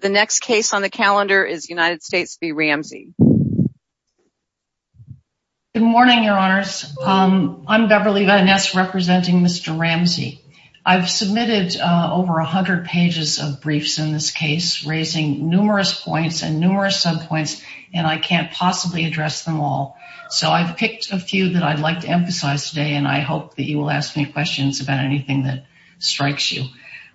The next case on the calendar is United States v. Ramsey. Good morning, your honors. I'm Beverly Van Ness representing Mr. Ramsey. I've submitted over a hundred pages of briefs in this case, raising numerous points and numerous subpoints, and I can't possibly address them all. So I've picked a few that I'd like to emphasize today, and I hope that you will ask me questions about anything that strikes you.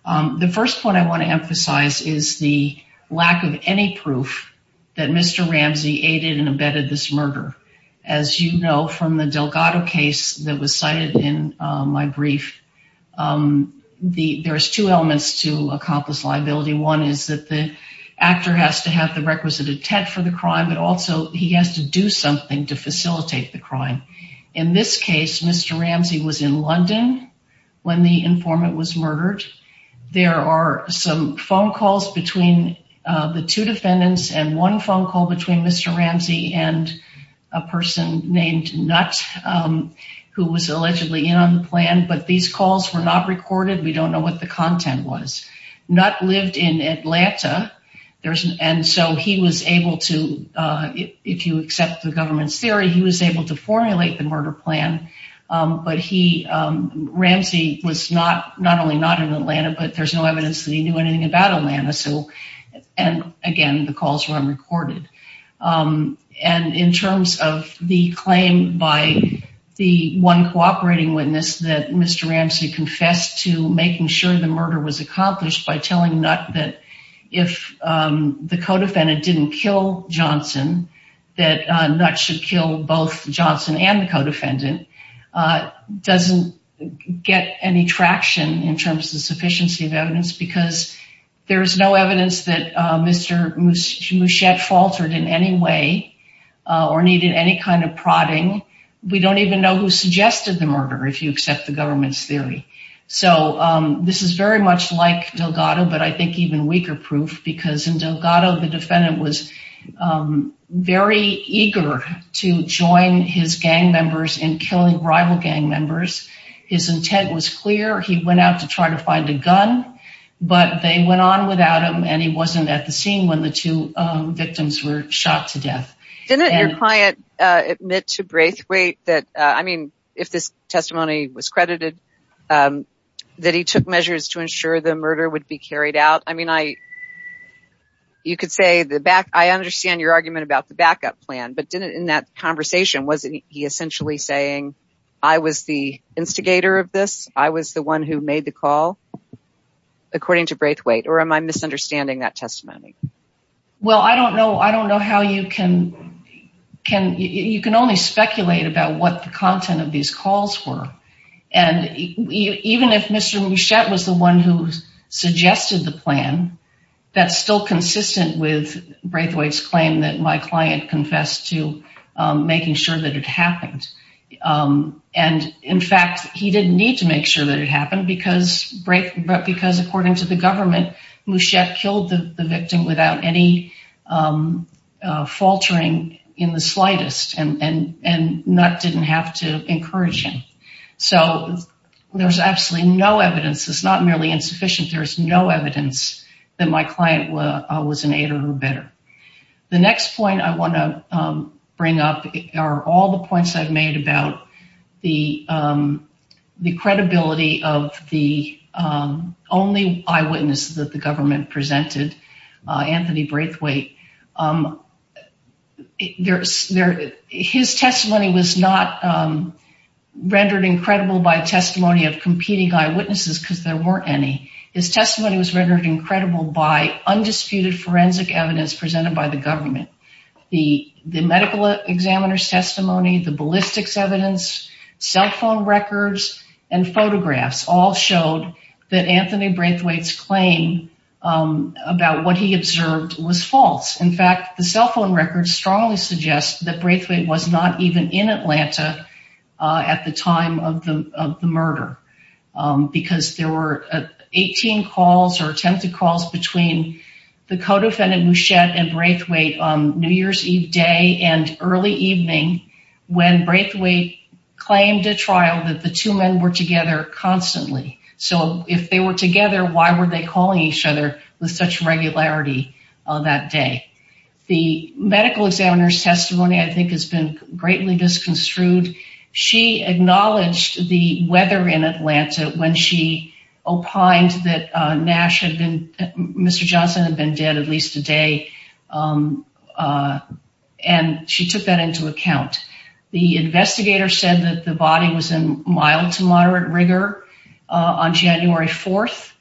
The first point I want to emphasize is the lack of any proof that Mr. Ramsey aided and abetted this murder. As you know from the Delgado case that was cited in my brief, there's two elements to accomplice liability. One is that the actor has to have the requisite intent for the crime, but also he has to do something to facilitate the crime. In this case, Mr. Ramsey was in London when the informant was murdered. There are some phone calls between the two defendants, and one phone call between Mr. Ramsey and a person named Nutt, who was allegedly in on the plan, but these calls were not recorded. We don't know what the content was. Nutt lived in Atlanta, and so he was able to, if you accept the government's theory, he was able to formulate the murder plan, but he, Ramsey was not, not only not in Atlanta, but there's no evidence that he knew anything about Atlanta. So, and again, the calls were unrecorded. And in terms of the claim by the one cooperating witness that Mr. Ramsey confessed to making sure the murder was accomplished by telling Nutt that if the co-defendant didn't kill Johnson, that Nutt should kill both Johnson and the co-defendant, doesn't get any traction in terms of sufficiency of evidence, because there's no evidence that Mr. Muschiette faltered in any way, or needed any kind of prodding. We don't even know who suggested the murder, if you accept the government's theory. So, this is very much like Delgado, but I think even weaker proof, because in Delgado, the defendant was very eager to join his gang members in killing rival gang members. His intent was clear. He went out to try to find a gun, but they went on without him, and he wasn't at the scene when the two victims were shot to death. Didn't your client admit to Braithwaite that, I mean, if this testimony was credited, that he took measures to ensure the murder would be carried out? I mean, you could say, I understand your argument about the backup plan, but in that conversation, wasn't he essentially saying, I was the instigator of this? I was the one who made the call, according to Braithwaite? Or am I misunderstanding that testimony? Well, I don't know how you can, you can only speculate about what the content of these calls were. And even if Mr. Mouchette was the one who suggested the plan, that's still consistent with Braithwaite's claim that my client confessed to making sure that it happened. And, in fact, he didn't need to make sure that it happened, because according to the government, Mouchette killed the victim without any faltering in the slightest, and didn't have to encourage him. So there's absolutely no evidence, it's not merely insufficient, there's no evidence that my client was an aider or better. The next point I want to bring up are all the points I've made about the credibility of the only eyewitness that the government presented, Anthony Braithwaite. His testimony was not rendered incredible by testimony of competing eyewitnesses, because there weren't any. His testimony was rendered incredible by undisputed forensic evidence presented by the government. The medical examiner's testimony, the ballistics evidence, cell phone records, and photographs, all showed that Anthony Braithwaite's claim about what he observed was false. In fact, the cell phone records strongly suggest that Braithwaite was not even in Atlanta at the time of the murder, because there were 18 calls or attempted calls between the co-defendant Mouchette and Braithwaite on New Year's Eve day and early evening, when Braithwaite claimed at trial that the two men were together constantly. So if they were together, why were they calling each other with such regularity that day? The medical examiner's testimony, I think, has been greatly disconstrued. She acknowledged the weather in Atlanta when she opined that Mr. Johnson had been dead at least a day, and she took that into account. The investigator said that the body was in mild to moderate rigor on January 4th,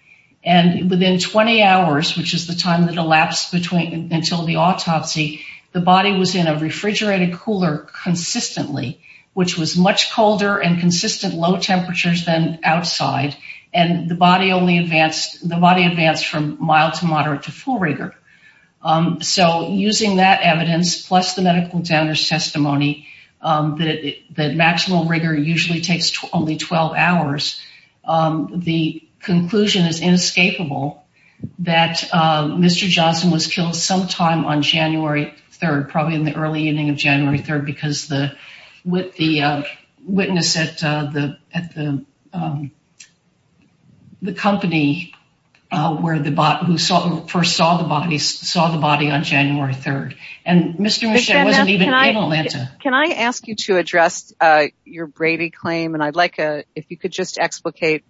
and within 20 hours, which is the time that elapsed until the autopsy, the body was in a refrigerated cooler consistently, which was much colder and consistent low temperatures than outside, and the body advanced from mild to moderate to full rigor. So using that evidence, plus the medical examiner's testimony, that maximal rigor usually takes only 12 hours, the conclusion is inescapable that Mr. Johnson was killed sometime on January 3rd, probably in the early evening of January 3rd, because the witness at the company who first saw the body saw the body on January 3rd. And Mr. Mouchette wasn't even in Atlanta. Can I ask you to address your Brady claim? And I'd like if you could just explicate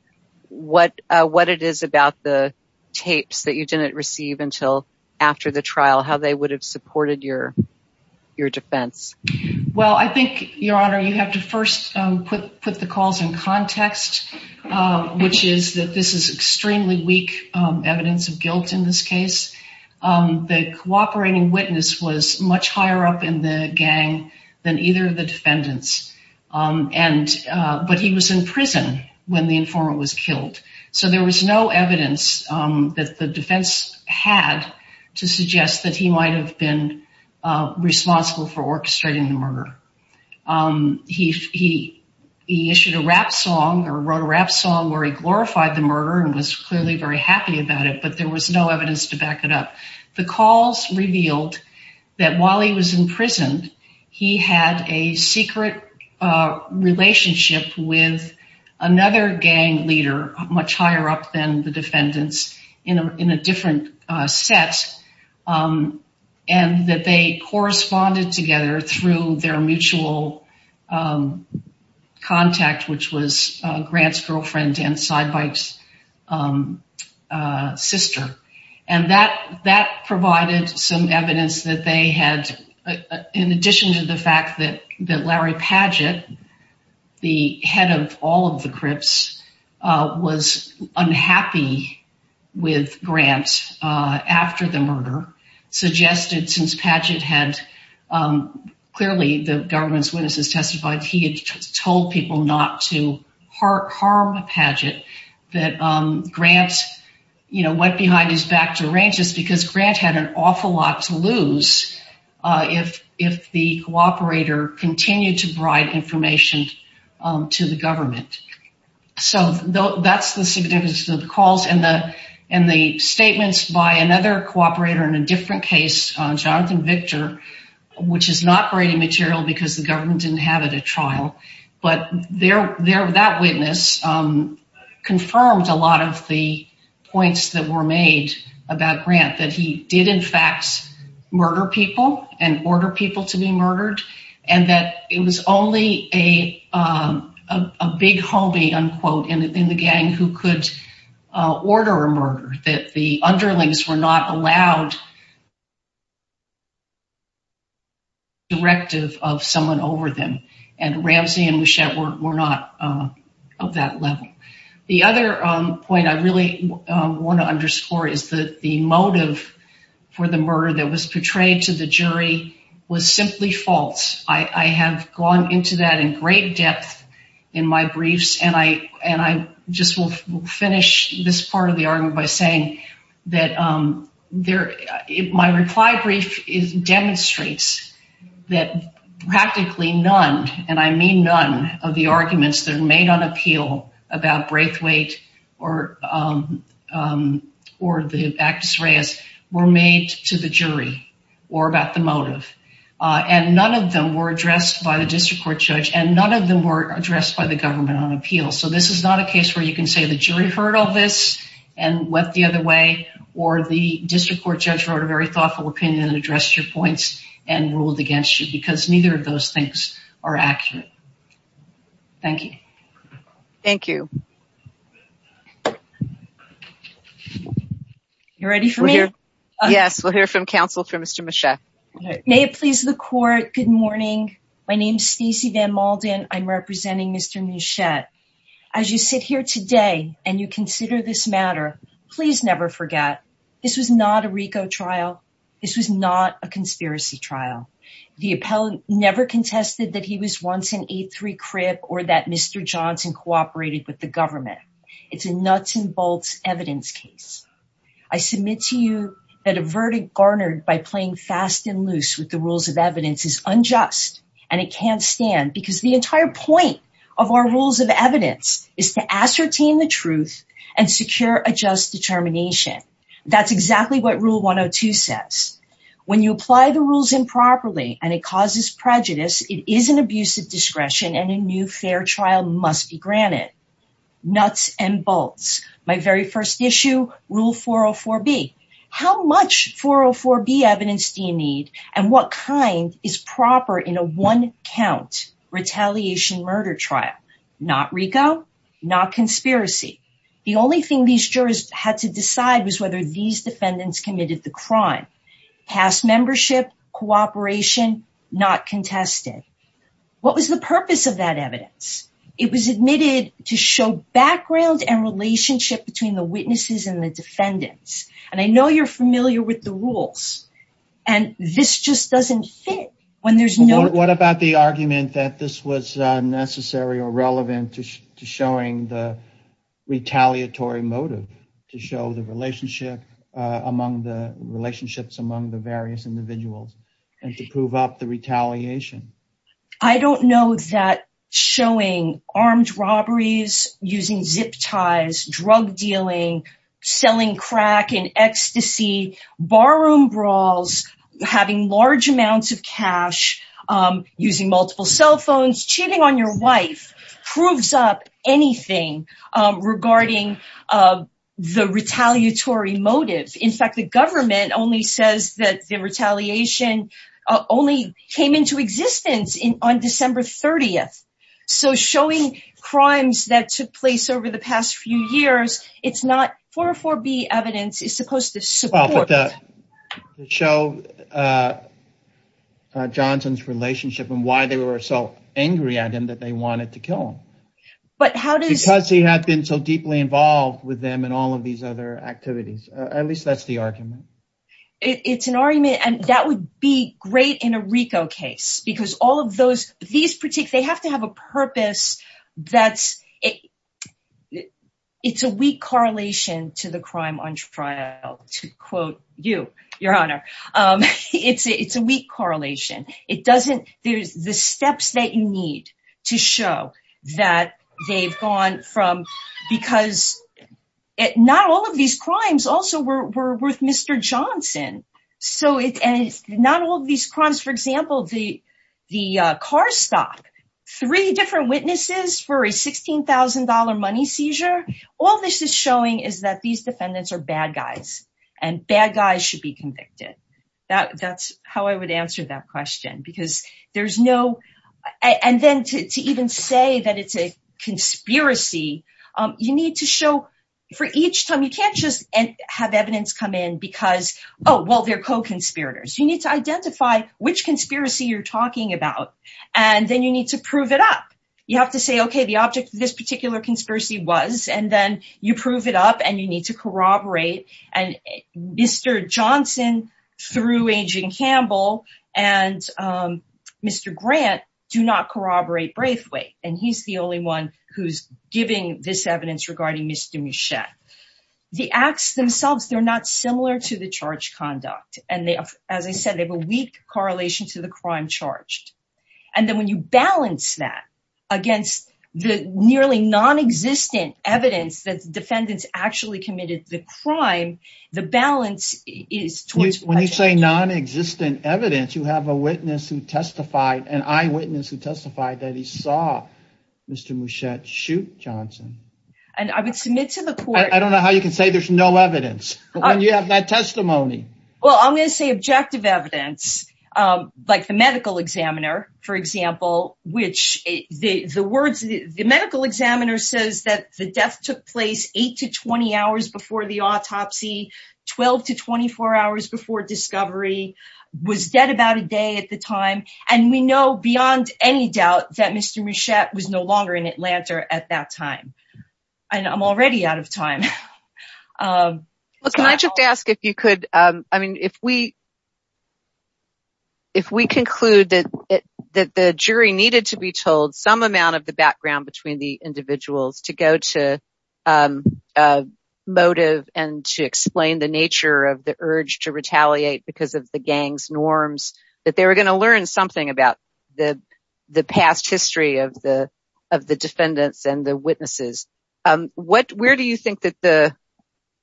what it is about the tapes that you didn't receive until after the trial, how they would have supported your defense. Well, I think, Your Honor, you have to first put the calls in context, which is that this is extremely weak evidence of guilt in this case. The cooperating witness was much higher up in the gang than either of the defendants, but he was in prison when the informant was killed. So there was no evidence that the defense had to suggest that he might have been responsible for orchestrating the murder. He issued a rap song or wrote a rap song where he glorified the murder and was clearly very happy about it, but there was no evidence to back it up. The calls revealed that while he was in prison, he had a secret relationship with another gang leader much higher up than the defendants in a different set, and that they corresponded together through their mutual contact, which was Grant's girlfriend and Sidebite's sister. And that provided some evidence that they had, in addition to the fact that Larry Padgett, the head of all of the Crips, was unhappy with Grant after the murder, suggested since Padgett had, clearly the government's witnesses testified, he had told people not to harm Padgett, that Grant went behind his back to arrange this to the government. So that's the significance of the calls and the statements by another cooperator in a different case, Jonathan Victor, which is not great material because the government didn't have it at trial, but that witness confirmed a lot of the points that were made about Grant, that he did in fact murder people and order people to be murdered, and that it was only a big homie, unquote, in the gang who could order a murder, that the underlings were not allowed directive of someone over them, and Ramsey and Wuschett were not of that level. The other point I really want to underscore is that the motive for the murder that was portrayed to the jury was simply false. I have gone into that in great depth in my briefs, and I just will finish this part of the argument by saying that my reply brief demonstrates that practically none, and I mean none, of the arguments that are made on appeal about Braithwaite or the actus reus were made to the jury or about the motive. And none of them were addressed by the district court judge, and none of them were addressed by the government on appeal. So this is not a case where you can say the jury heard all this and went the other way, or the district court judge wrote a very thoughtful opinion and addressed your points and ruled against you because neither of those things are accurate. Thank you. Thank you. You ready for me? Yes, we'll hear from counsel for Mr. Muschiette. May it please the court, good morning. My name is Stacey Van Malden. I'm representing Mr. Muschiette. As you sit here today and you consider this matter, please never forget this was not a RICO trial. This was not a conspiracy trial. The appellant never contested that he was once an A3 crip or that Mr. Johnson cooperated with the government. It's a nuts and bolts evidence case. I submit to you that a verdict garnered by playing fast and loose with the rules of evidence is unjust, and it can't stand because the entire point of our rules of evidence is to ascertain the truth and secure a just determination. That's exactly what Rule 102 says. When you apply the rules improperly and it causes prejudice, it is an abuse of discretion and a new fair trial must be granted. Nuts and bolts. My very first issue, Rule 404B. How much 404B evidence do you need and what kind is proper in a one count retaliation murder trial? Not RICO, not conspiracy. The only thing these jurors had to decide was whether these defendants committed the crime. Past membership, cooperation, not contested. What was the purpose of that evidence? It was admitted to show background and relationship between the witnesses and the defendants. And I know you're familiar with the rules. And this just doesn't fit. What about the argument that this was necessary or relevant to showing the retaliatory motive, to show the relationships among the various individuals and to prove up the retaliation? I don't know that showing armed robberies, using zip ties, drug dealing, selling crack in ecstasy, barroom brawls, having large amounts of cash, using multiple cell phones, cheating on your wife, proves up anything regarding the retaliatory motive. In fact, the government only says that the retaliation only came into existence on December 30th. So showing crimes that took place over the past few years, it's not 404B evidence is supposed to support it. To show Johnson's relationship and why they were so angry at him that they wanted to kill him. Because he had been so deeply involved with them and all of these other activities. At least that's the argument. It's an argument, and that would be great in a RICO case. They have to have a purpose. It's a weak correlation to the crime on trial, to quote you, Your Honor. It's a weak correlation. There's the steps that you need to show that they've gone from... Because not all of these crimes also were with Mr. Johnson. Not all of these crimes. For example, the car stop. Three different witnesses for a $16,000 money seizure. All this is showing is that these defendants are bad guys. And bad guys should be convicted. That's how I would answer that question. To even say that it's a conspiracy, you need to show... For each time, you can't just have evidence come in because, oh, well, they're co-conspirators. You need to identify which conspiracy you're talking about. And then you need to prove it up. You have to say, okay, the object of this particular conspiracy was... And then you prove it up and you need to corroborate. And Mr. Johnson, through Agent Campbell, and Mr. Grant do not corroborate Braithwaite. And he's the only one who's giving this evidence regarding Mr. Mouchet. The acts themselves, they're not similar to the charge conduct. And as I said, they have a weak correlation to the crime charged. And then when you balance that against the nearly non-existent evidence that the defendants actually committed the crime, the balance is... When you say non-existent evidence, you have a witness who testified, an eyewitness who testified that he saw Mr. Mouchet shoot Johnson. And I would submit to the court... I don't know how you can say there's no evidence. But when you have that testimony... Well, I'm going to say objective evidence, like the medical examiner, for example. The medical examiner says that the death took place 8 to 20 hours before the autopsy, 12 to 24 hours before discovery, was dead about a day at the time. And we know beyond any doubt that Mr. Mouchet was no longer in Atlanta at that time. And I'm already out of time. Can I just ask if you could... I mean, if we conclude that the jury needed to be told some amount of the background between the individuals to go to motive and to explain the nature of the urge to retaliate because of the gang's norms, that they were going to learn something about the past history of the defendants and the witnesses.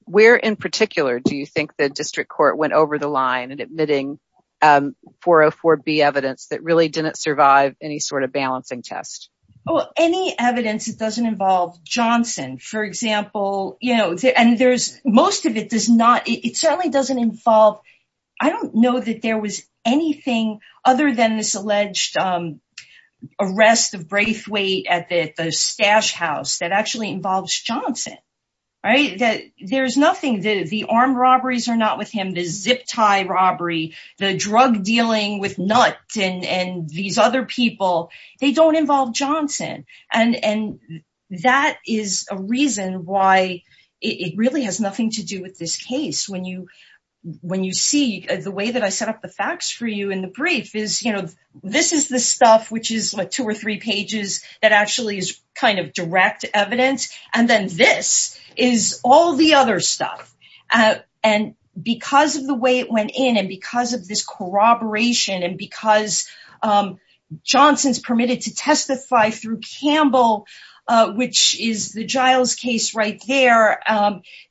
Where in particular do you think the district court went over the line in admitting 404B evidence that really didn't survive any sort of balancing test? Any evidence that doesn't involve Johnson, for example. Most of it certainly doesn't involve... I don't know that there was anything other than this alleged arrest of Braithwaite at the Stash House that actually involves Johnson. There's nothing. The armed robberies are not with him. The zip tie robbery, the drug dealing with Nutt and these other people, they don't involve Johnson. And that is a reason why it really has nothing to do with this case. When you see... The way that I set up the facts for you in the brief is, you know, this is the stuff which is like two or three pages that actually is kind of direct evidence. And then this is all the other stuff. And because of the way it went in and because of this corroboration and because Johnson's permitted to testify through Campbell, which is the Giles case right there,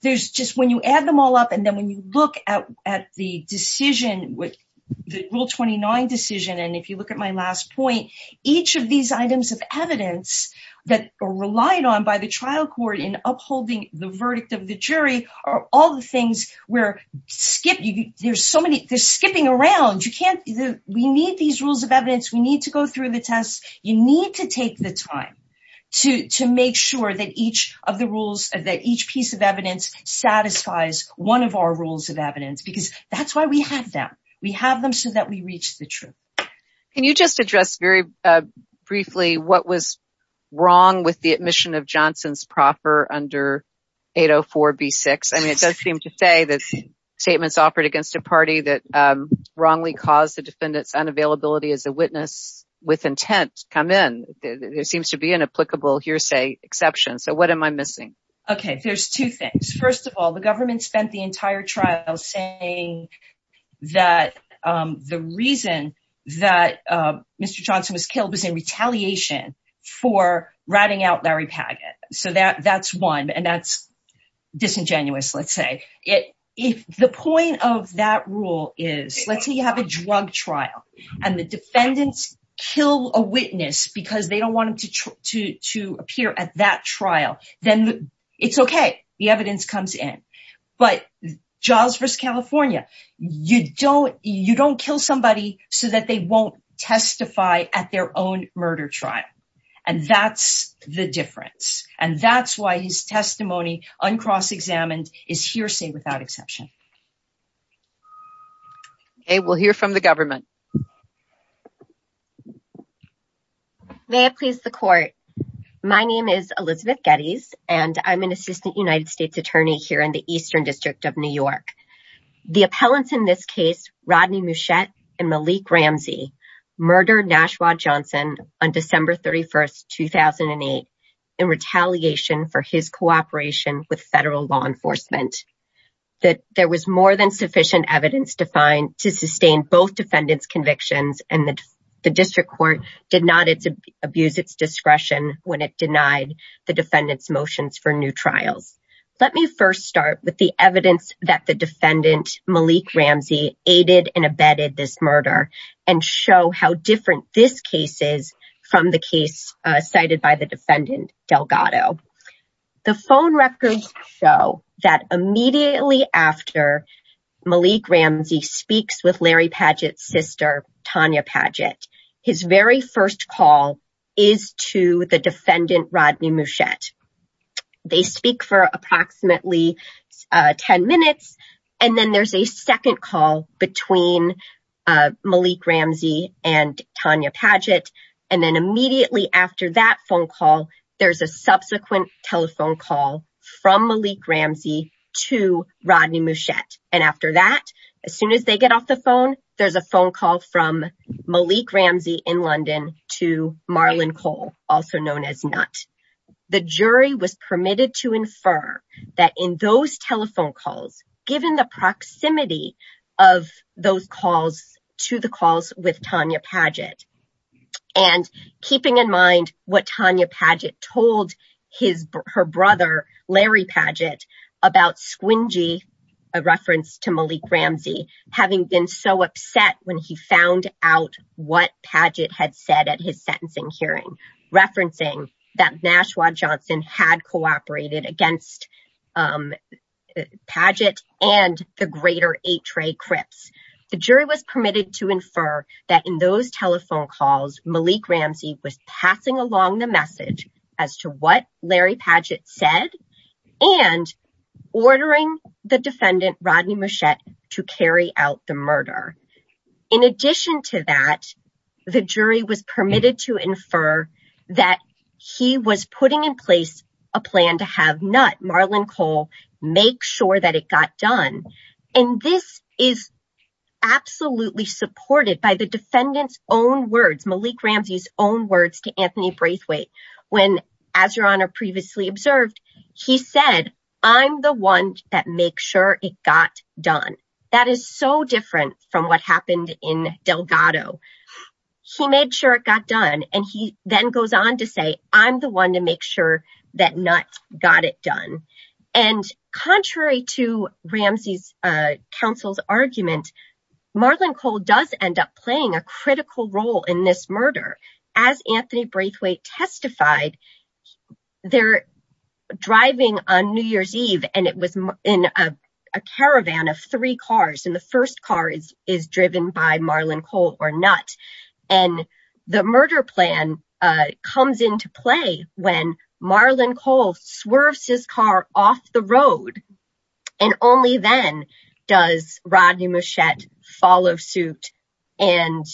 there's just... When you add them all up and then when you look at the decision, the Rule 29 decision, and if you look at my last point, each of these items of evidence that are relied on by the trial court in upholding the verdict of the jury are all the things where there's so many... They're skipping around. We need these rules of evidence. We need to go through the tests. You need to take the time to make sure that each of the rules, that each piece of evidence satisfies one of our rules of evidence because that's why we have them. We have them so that we reach the truth. Can you just address very briefly what was wrong with the admission of Johnson's proffer under 804B6? I mean, it does seem to say that statements offered against a party that wrongly caused the defendant's unavailability as a witness with intent come in. There seems to be an applicable hearsay exception. So what am I missing? Okay. There's two things. First of all, the government spent the entire trial saying that the reason that Mr. Johnson was killed was in retaliation for ratting out Larry Paget. So that's one, and that's disingenuous, let's say. The point of that rule is, let's say you have a drug trial and the defendants kill a witness because they don't want him to appear at that trial, then it's okay. The evidence comes in. But Giles v. California, you don't kill somebody so that they won't testify at their own murder trial. And that's the difference. And that's why his testimony, uncross-examined, is hearsay without exception. Okay, we'll hear from the government. May it please the court. My name is Elizabeth Geddes, and I'm an assistant United States attorney here in the Eastern District of New York. The appellants in this case, Rodney Muschiette and Malik Ramsey, murdered Nashua Johnson on December 31, 2008, in retaliation for his cooperation with federal law enforcement. There was more than sufficient evidence to sustain both defendants' convictions, and the district court did not abuse its discretion when it denied the defendants' motions for new trials. Let me first start with the evidence that the defendant, Malik Ramsey, aided and abetted this murder, and show how different this case is from the case cited by the defendant, Delgado. The phone records show that immediately after Malik Ramsey speaks with Larry Padgett's sister, Tanya Padgett, his very first call is to the defendant, Rodney Muschiette. They speak for approximately 10 minutes, and then there's a second call between Malik Ramsey and Tanya Padgett. And then immediately after that phone call, there's a subsequent telephone call from Malik Ramsey to Rodney Muschiette. And after that, as soon as they get off the phone, there's a phone call from Malik Ramsey in London to Marlon Cole, also known as Nut. The jury was permitted to infer that in those telephone calls, given the proximity of those calls to the calls with Tanya Padgett, and keeping in mind what Tanya Padgett told her brother, Larry Padgett, about Squingy, a reference to Malik Ramsey, having been so upset when he found out what Padgett had said at his sentencing hearing, referencing that Nashua Johnson had cooperated against Padgett and the greater H. Ray Cripps. The jury was permitted to infer that in those telephone calls, Malik Ramsey was passing along the message as to what Larry Padgett said, and ordering the defendant, Rodney Muschiette, to carry out the murder. In addition to that, the jury was permitted to infer that he was putting in place a plan to have Nut, Marlon Cole, make sure that it got done. And this is absolutely supported by the defendant's own words, Malik Ramsey's own words to Anthony Braithwaite, when, as Your Honor previously observed, he said, I'm the one that makes sure it got done. That is so different from what happened in Delgado. He made sure it got done, and he then goes on to say, I'm the one to make sure that Nut got it done. And contrary to Ramsey's counsel's argument, Marlon Cole does end up playing a critical role in this murder. As Anthony Braithwaite testified, they're driving on New Year's Eve, and it was in a caravan of three cars. And the first car is driven by Marlon Cole or Nut. And the murder plan comes into play when Marlon Cole swerves his car off the road. And only then does Rodney Muschiette follow suit and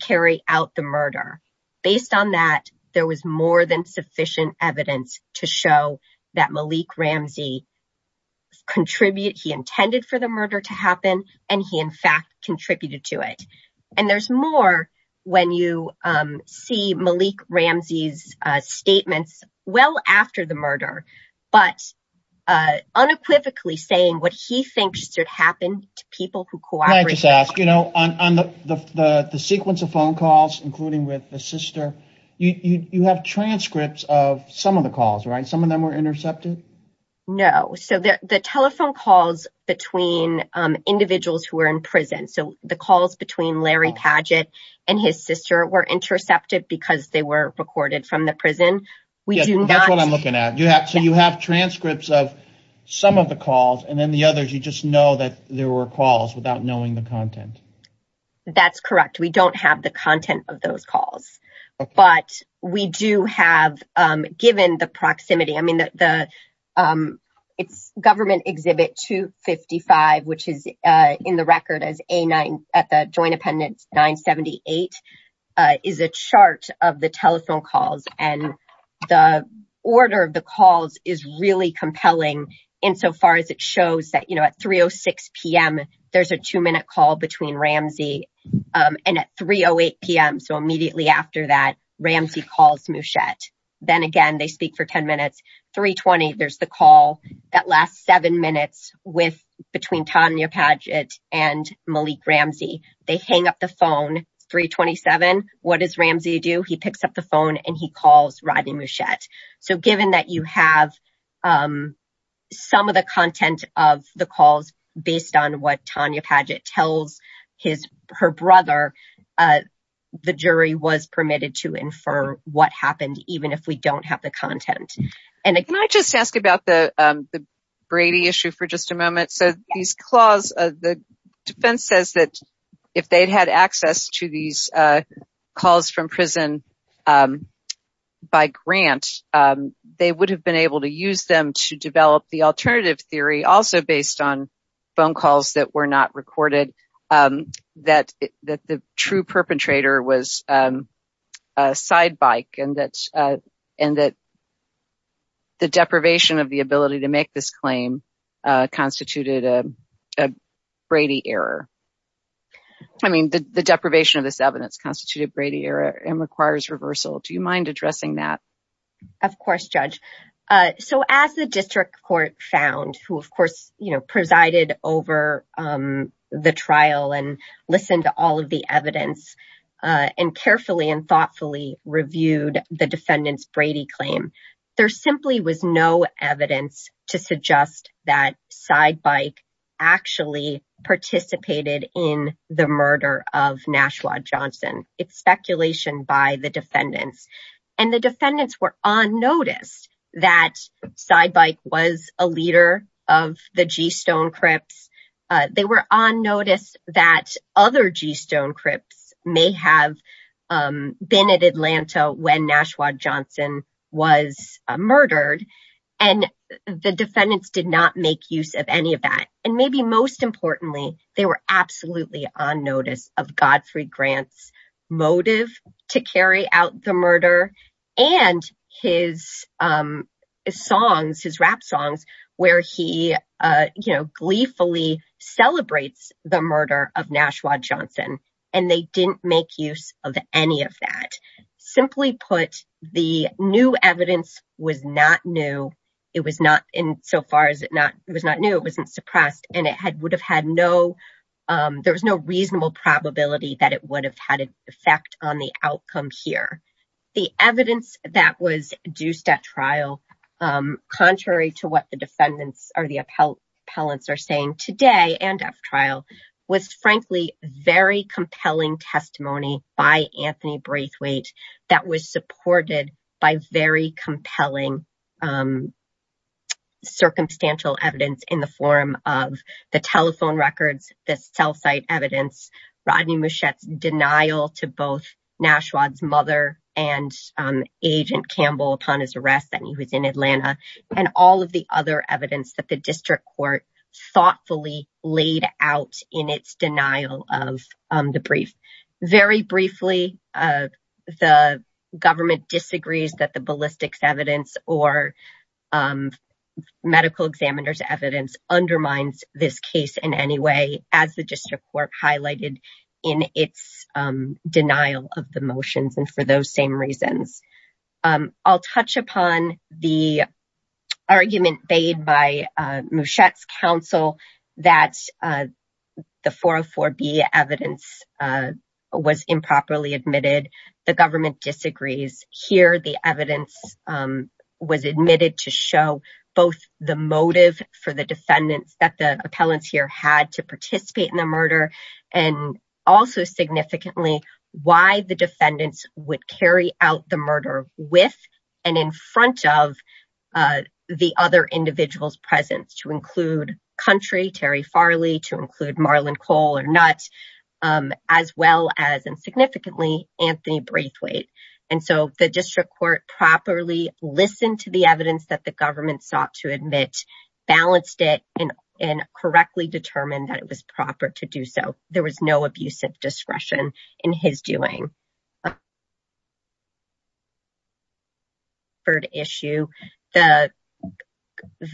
carry out the murder. Based on that, there was more than sufficient evidence to show that Malik Ramsey contributed. He intended for the murder to happen, and he, in fact, contributed to it. And there's more when you see Malik Ramsey's statements well after the murder, but unequivocally saying what he thinks should happen to people who cooperate. Can I just ask, you know, on the sequence of phone calls, including with the sister, you have transcripts of some of the calls, right? Some of them were intercepted? No. So the telephone calls between individuals who were in prison, so the calls between Larry Padgett and his sister were intercepted because they were recorded from the prison. That's what I'm looking at. So you have transcripts of some of the calls and then the others, you just know that there were calls without knowing the content. That's correct. We don't have the content of those calls. But we do have given the proximity. I mean, it's government exhibit 255, which is in the record as a nine at the Joint Appendix 978 is a chart of the telephone calls. And the order of the calls is really compelling insofar as it shows that, you know, at 3.06 p.m. there's a two minute call between Ramsey and at 3.08 p.m. So immediately after that, Ramsey calls Mouchette. Then again, they speak for 10 minutes, 3.20. There's the call that lasts seven minutes with between Tanya Padgett and Malik Ramsey. They hang up the phone 3.27. What does Ramsey do? He picks up the phone and he calls Rodney Mouchette. So given that you have some of the content of the calls based on what Tanya Padgett tells his her brother, the jury was permitted to infer what happened, even if we don't have the content. And can I just ask about the Brady issue for just a moment? So these clause of the defense says that if they'd had access to these calls from prison by grant, they would have been able to use them to develop the alternative theory. Also, based on phone calls that were not recorded, that the true perpetrator was a side bike and that the deprivation of the ability to make this claim constituted a Brady error. I mean, the deprivation of this evidence constituted Brady error and requires reversal. Do you mind addressing that? Of course, Judge. So as the district court found, who, of course, presided over the trial and listened to all of the evidence and carefully and thoughtfully reviewed the defendant's Brady claim, there simply was no evidence to suggest that side bike actually participated in the murder of Nashua Johnson. It's speculation by the defendants and the defendants were on notice that side bike was a leader of the G Stone Crips. They were on notice that other G Stone Crips may have been at Atlanta when Nashua Johnson was murdered and the defendants did not make use of any of that. And maybe most importantly, they were absolutely on notice of Godfrey Grant's motive to carry out the murder and his songs, his rap songs, where he gleefully celebrates the murder of Nashua Johnson. And they didn't make use of any of that. Simply put, the new evidence was not new. It was not in so far as it was not new. It wasn't suppressed and it had would have had no there was no reasonable probability that it would have had an effect on the outcome here. The evidence that was deuced at trial, contrary to what the defendants or the appellants are saying today and after trial, was frankly very compelling testimony by Anthony Braithwaite that was supported by very compelling circumstantial evidence in the form of the telephone records, the cell site evidence, Rodney Muschiette's denial to both Nashua's mother and Agent Campbell upon his arrest that he was in Atlanta and all of the other evidence that the district court thoughtfully laid out in its denial of the brief. Very briefly, the government disagrees that the ballistics evidence or medical examiner's evidence undermines this case in any way, as the district court highlighted in its denial of the motions. And for those same reasons, I'll touch upon the argument made by Muschiette's counsel that the 404B evidence was improperly admitted. The government disagrees. Here, the evidence was admitted to show both the motive for the defendants that the appellants here had to participate in the murder. And also, significantly, why the defendants would carry out the murder with and in front of the other individual's presence, to include Country, Terry Farley, to include Marlon Cole or Nutt, as well as and significantly, Anthony Braithwaite. And so the district court properly listened to the evidence that the government sought to admit, balanced it and correctly determined that it was proper to do so. There was no abusive discretion in his doing.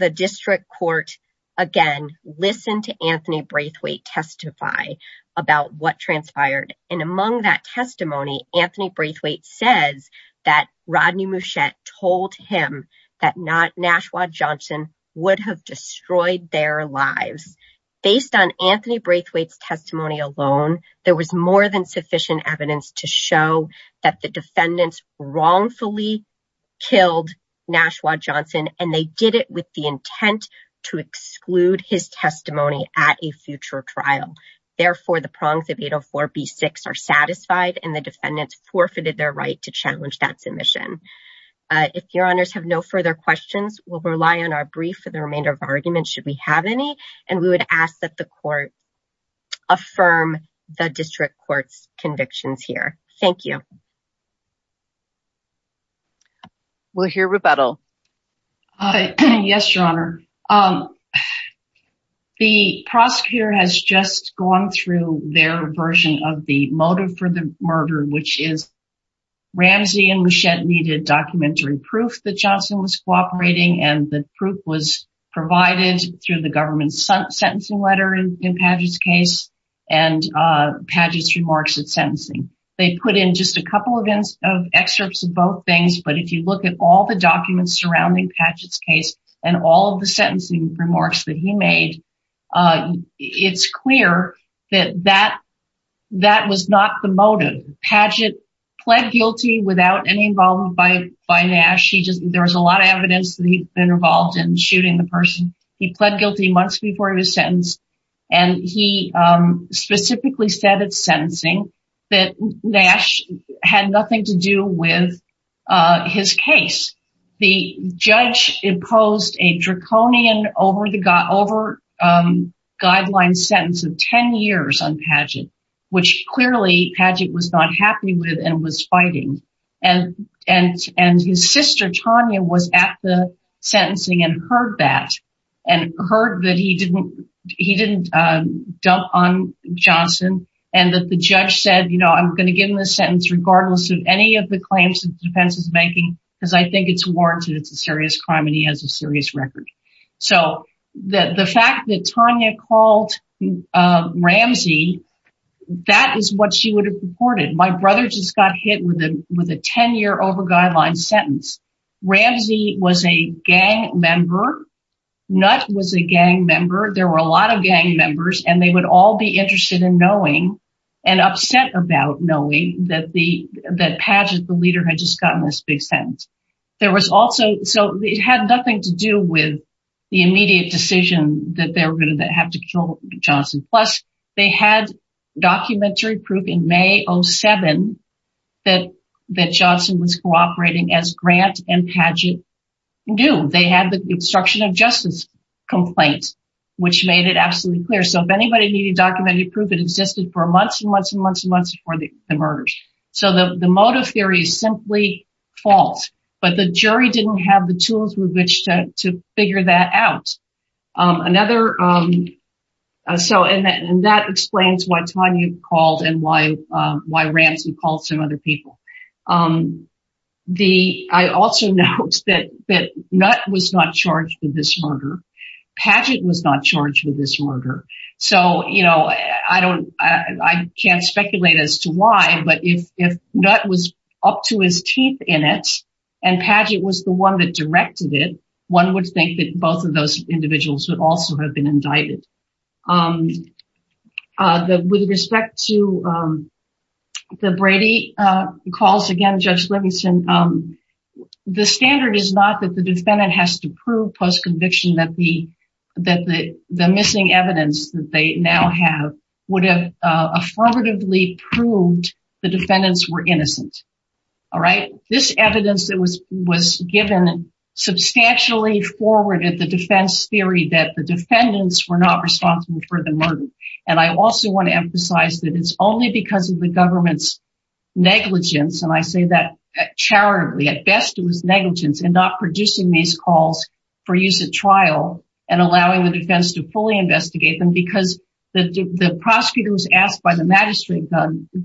The district court, again, listened to Anthony Braithwaite testify about what transpired. And among that testimony, Anthony Braithwaite says that Rodney Muschiette told him that Nashwa Johnson would have destroyed their lives. Based on Anthony Braithwaite's testimony alone, there was more than sufficient evidence to show that the defendants wrongfully killed Nashwa Johnson, and they did it with the intent to exclude his testimony at a future trial. Therefore, the prongs of 804 B-6 are satisfied and the defendants forfeited their right to challenge that submission. If your honors have no further questions, we'll rely on our brief for the remainder of argument, should we have any, and we would ask that the court affirm the district court's convictions here. Thank you. We'll hear rebuttal. Yes, your honor. The prosecutor has just gone through their version of the motive for the murder, which is Ramsey and Muschiette needed documentary proof that Johnson was cooperating and the proof was provided through the government sentencing letter in Padgett's case and Padgett's remarks at sentencing. They put in just a couple of excerpts of both things, but if you look at all the documents surrounding Padgett's case and all of the sentencing remarks that he made, it's clear that that was not the motive. Padgett pled guilty without any involvement by Nash. There was a lot of evidence that he'd been involved in shooting the person. He pled guilty months before he was sentenced. And he specifically said at sentencing that Nash had nothing to do with his case. The judge imposed a draconian over guideline sentence of 10 years on Padgett, which clearly Padgett was not happy with and was fighting. And his sister, Tanya, was at the sentencing and heard that. He didn't dump on Johnson and that the judge said, you know, I'm going to give him a sentence regardless of any of the claims that the defense is making, because I think it's warranted. It's a serious crime and he has a serious record. So the fact that Tanya called Ramsey, that is what she would have reported. My brother just got hit with a 10 year over guideline sentence. Ramsey was a gang member. Nutt was a gang member. There were a lot of gang members and they would all be interested in knowing and upset about knowing that Padgett, the leader, had just gotten this big sentence. So it had nothing to do with the immediate decision that they were going to have to kill Johnson. Plus, they had documentary proof in May 07 that Johnson was cooperating as Grant and Padgett knew. They had the obstruction of justice complaint, which made it absolutely clear. So if anybody needed documentary proof, it existed for months and months and months and months before the murders. So the motive theory is simply false. But the jury didn't have the tools with which to figure that out. And that explains why Tanya called and why Ramsey called some other people. I also note that Nutt was not charged with this murder. Padgett was not charged with this murder. So, you know, I can't speculate as to why, but if Nutt was up to his teeth in it and Padgett was the one that directed it, one would think that both of those individuals would also have been indicted. With respect to the Brady calls, again, Judge Livingston, the standard is not that the defendant has to prove post conviction that the missing evidence that they now have would have affirmatively proved the defendants were innocent. This evidence that was given substantially forwarded the defense theory that the defendants were not responsible for the murder. And I also want to emphasize that it's only because of the government's negligence. And I say that charitably. At best, it was negligence in not producing these calls for use at trial and allowing the defense to fully investigate them because the prosecutor was asked by the magistrate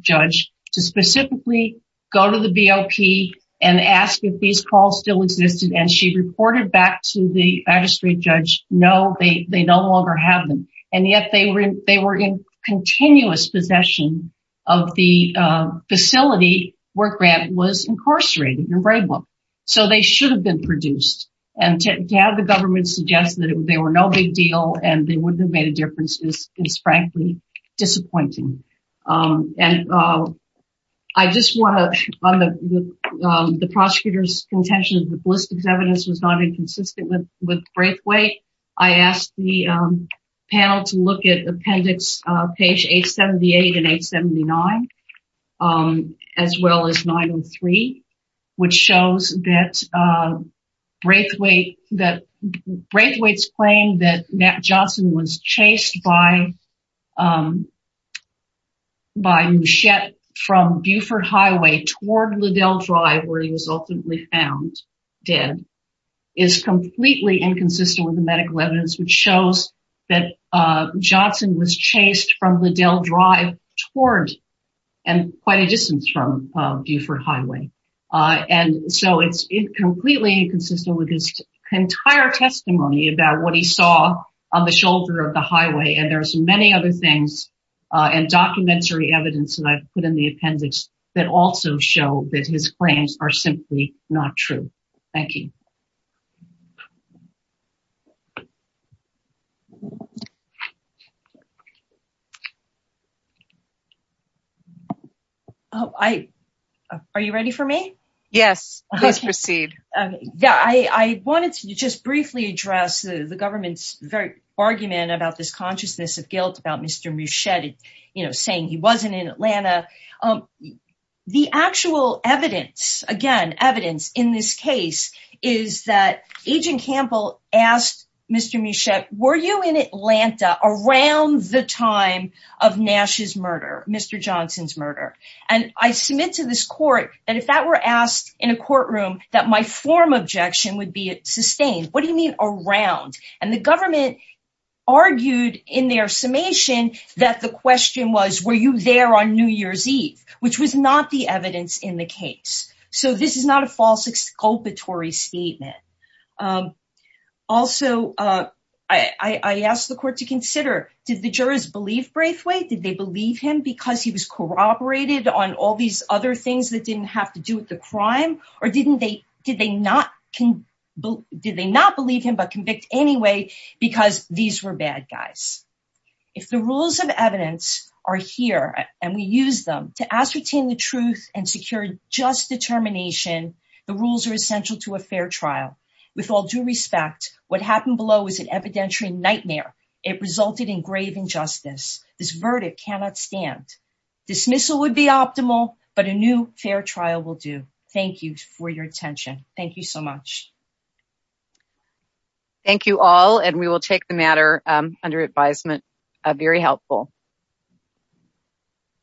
judge to specifically go to the BOP and ask if these calls still existed. And she reported back to the magistrate judge, no, they no longer have them. And yet they were in continuous possession of the facility where Grant was incarcerated in Braidwell. So they should have been produced. And to have the government suggest that they were no big deal and they wouldn't have made a difference is frankly disappointing. And I just want to, on the prosecutor's contention that the ballistics evidence was not inconsistent with Braithwaite, I asked the panel to look at appendix page 878 and 879, as well as 903, which shows that Braithwaite's claim that Matt Johnson was chased by Mouchette from Beaufort Highway toward Liddell Drive, where he was ultimately found dead, is completely inconsistent with the medical evidence, which shows that Johnson was chased from Liddell Drive toward and quite a distance from Beaufort Highway. And so it's completely inconsistent with his entire testimony about what he saw on the shoulder of the highway. And there's many other things and documentary evidence that I've put in the appendix that also show that his claims are simply not true. Thank you. Oh, I, are you ready for me? Yes, please proceed. Yeah, I wanted to just briefly address the government's very argument about this consciousness of guilt about Mr. Mouchette, you know, saying he wasn't in Atlanta. The actual evidence, again, evidence in this case is that Agent Campbell asked Mr. Mouchette, were you in Atlanta around the time of Nash's murder, Mr. Johnson's murder? And I submit to this court that if that were asked in a courtroom, that my form of objection would be sustained. What do you mean around? And the government argued in their summation that the question was, were you there on New Year's Eve, which was not the evidence in the case. So this is not a false exculpatory statement. Also, I asked the court to consider, did the jurors believe Braithwaite? Did they believe him because he was corroborated on all these other things that didn't have to do with the crime? Or did they not believe him but convict anyway, because these were bad guys? If the rules of evidence are here and we use them to ascertain the truth and secure just determination, the rules are essential to a fair trial. With all due respect, what happened below was an evidentiary nightmare. It resulted in grave injustice. This verdict cannot stand. Dismissal would be optimal, but a new fair trial will do. Thank you for your attention. Thank you so much. Thank you all, and we will take the matter under advisement. Very helpful.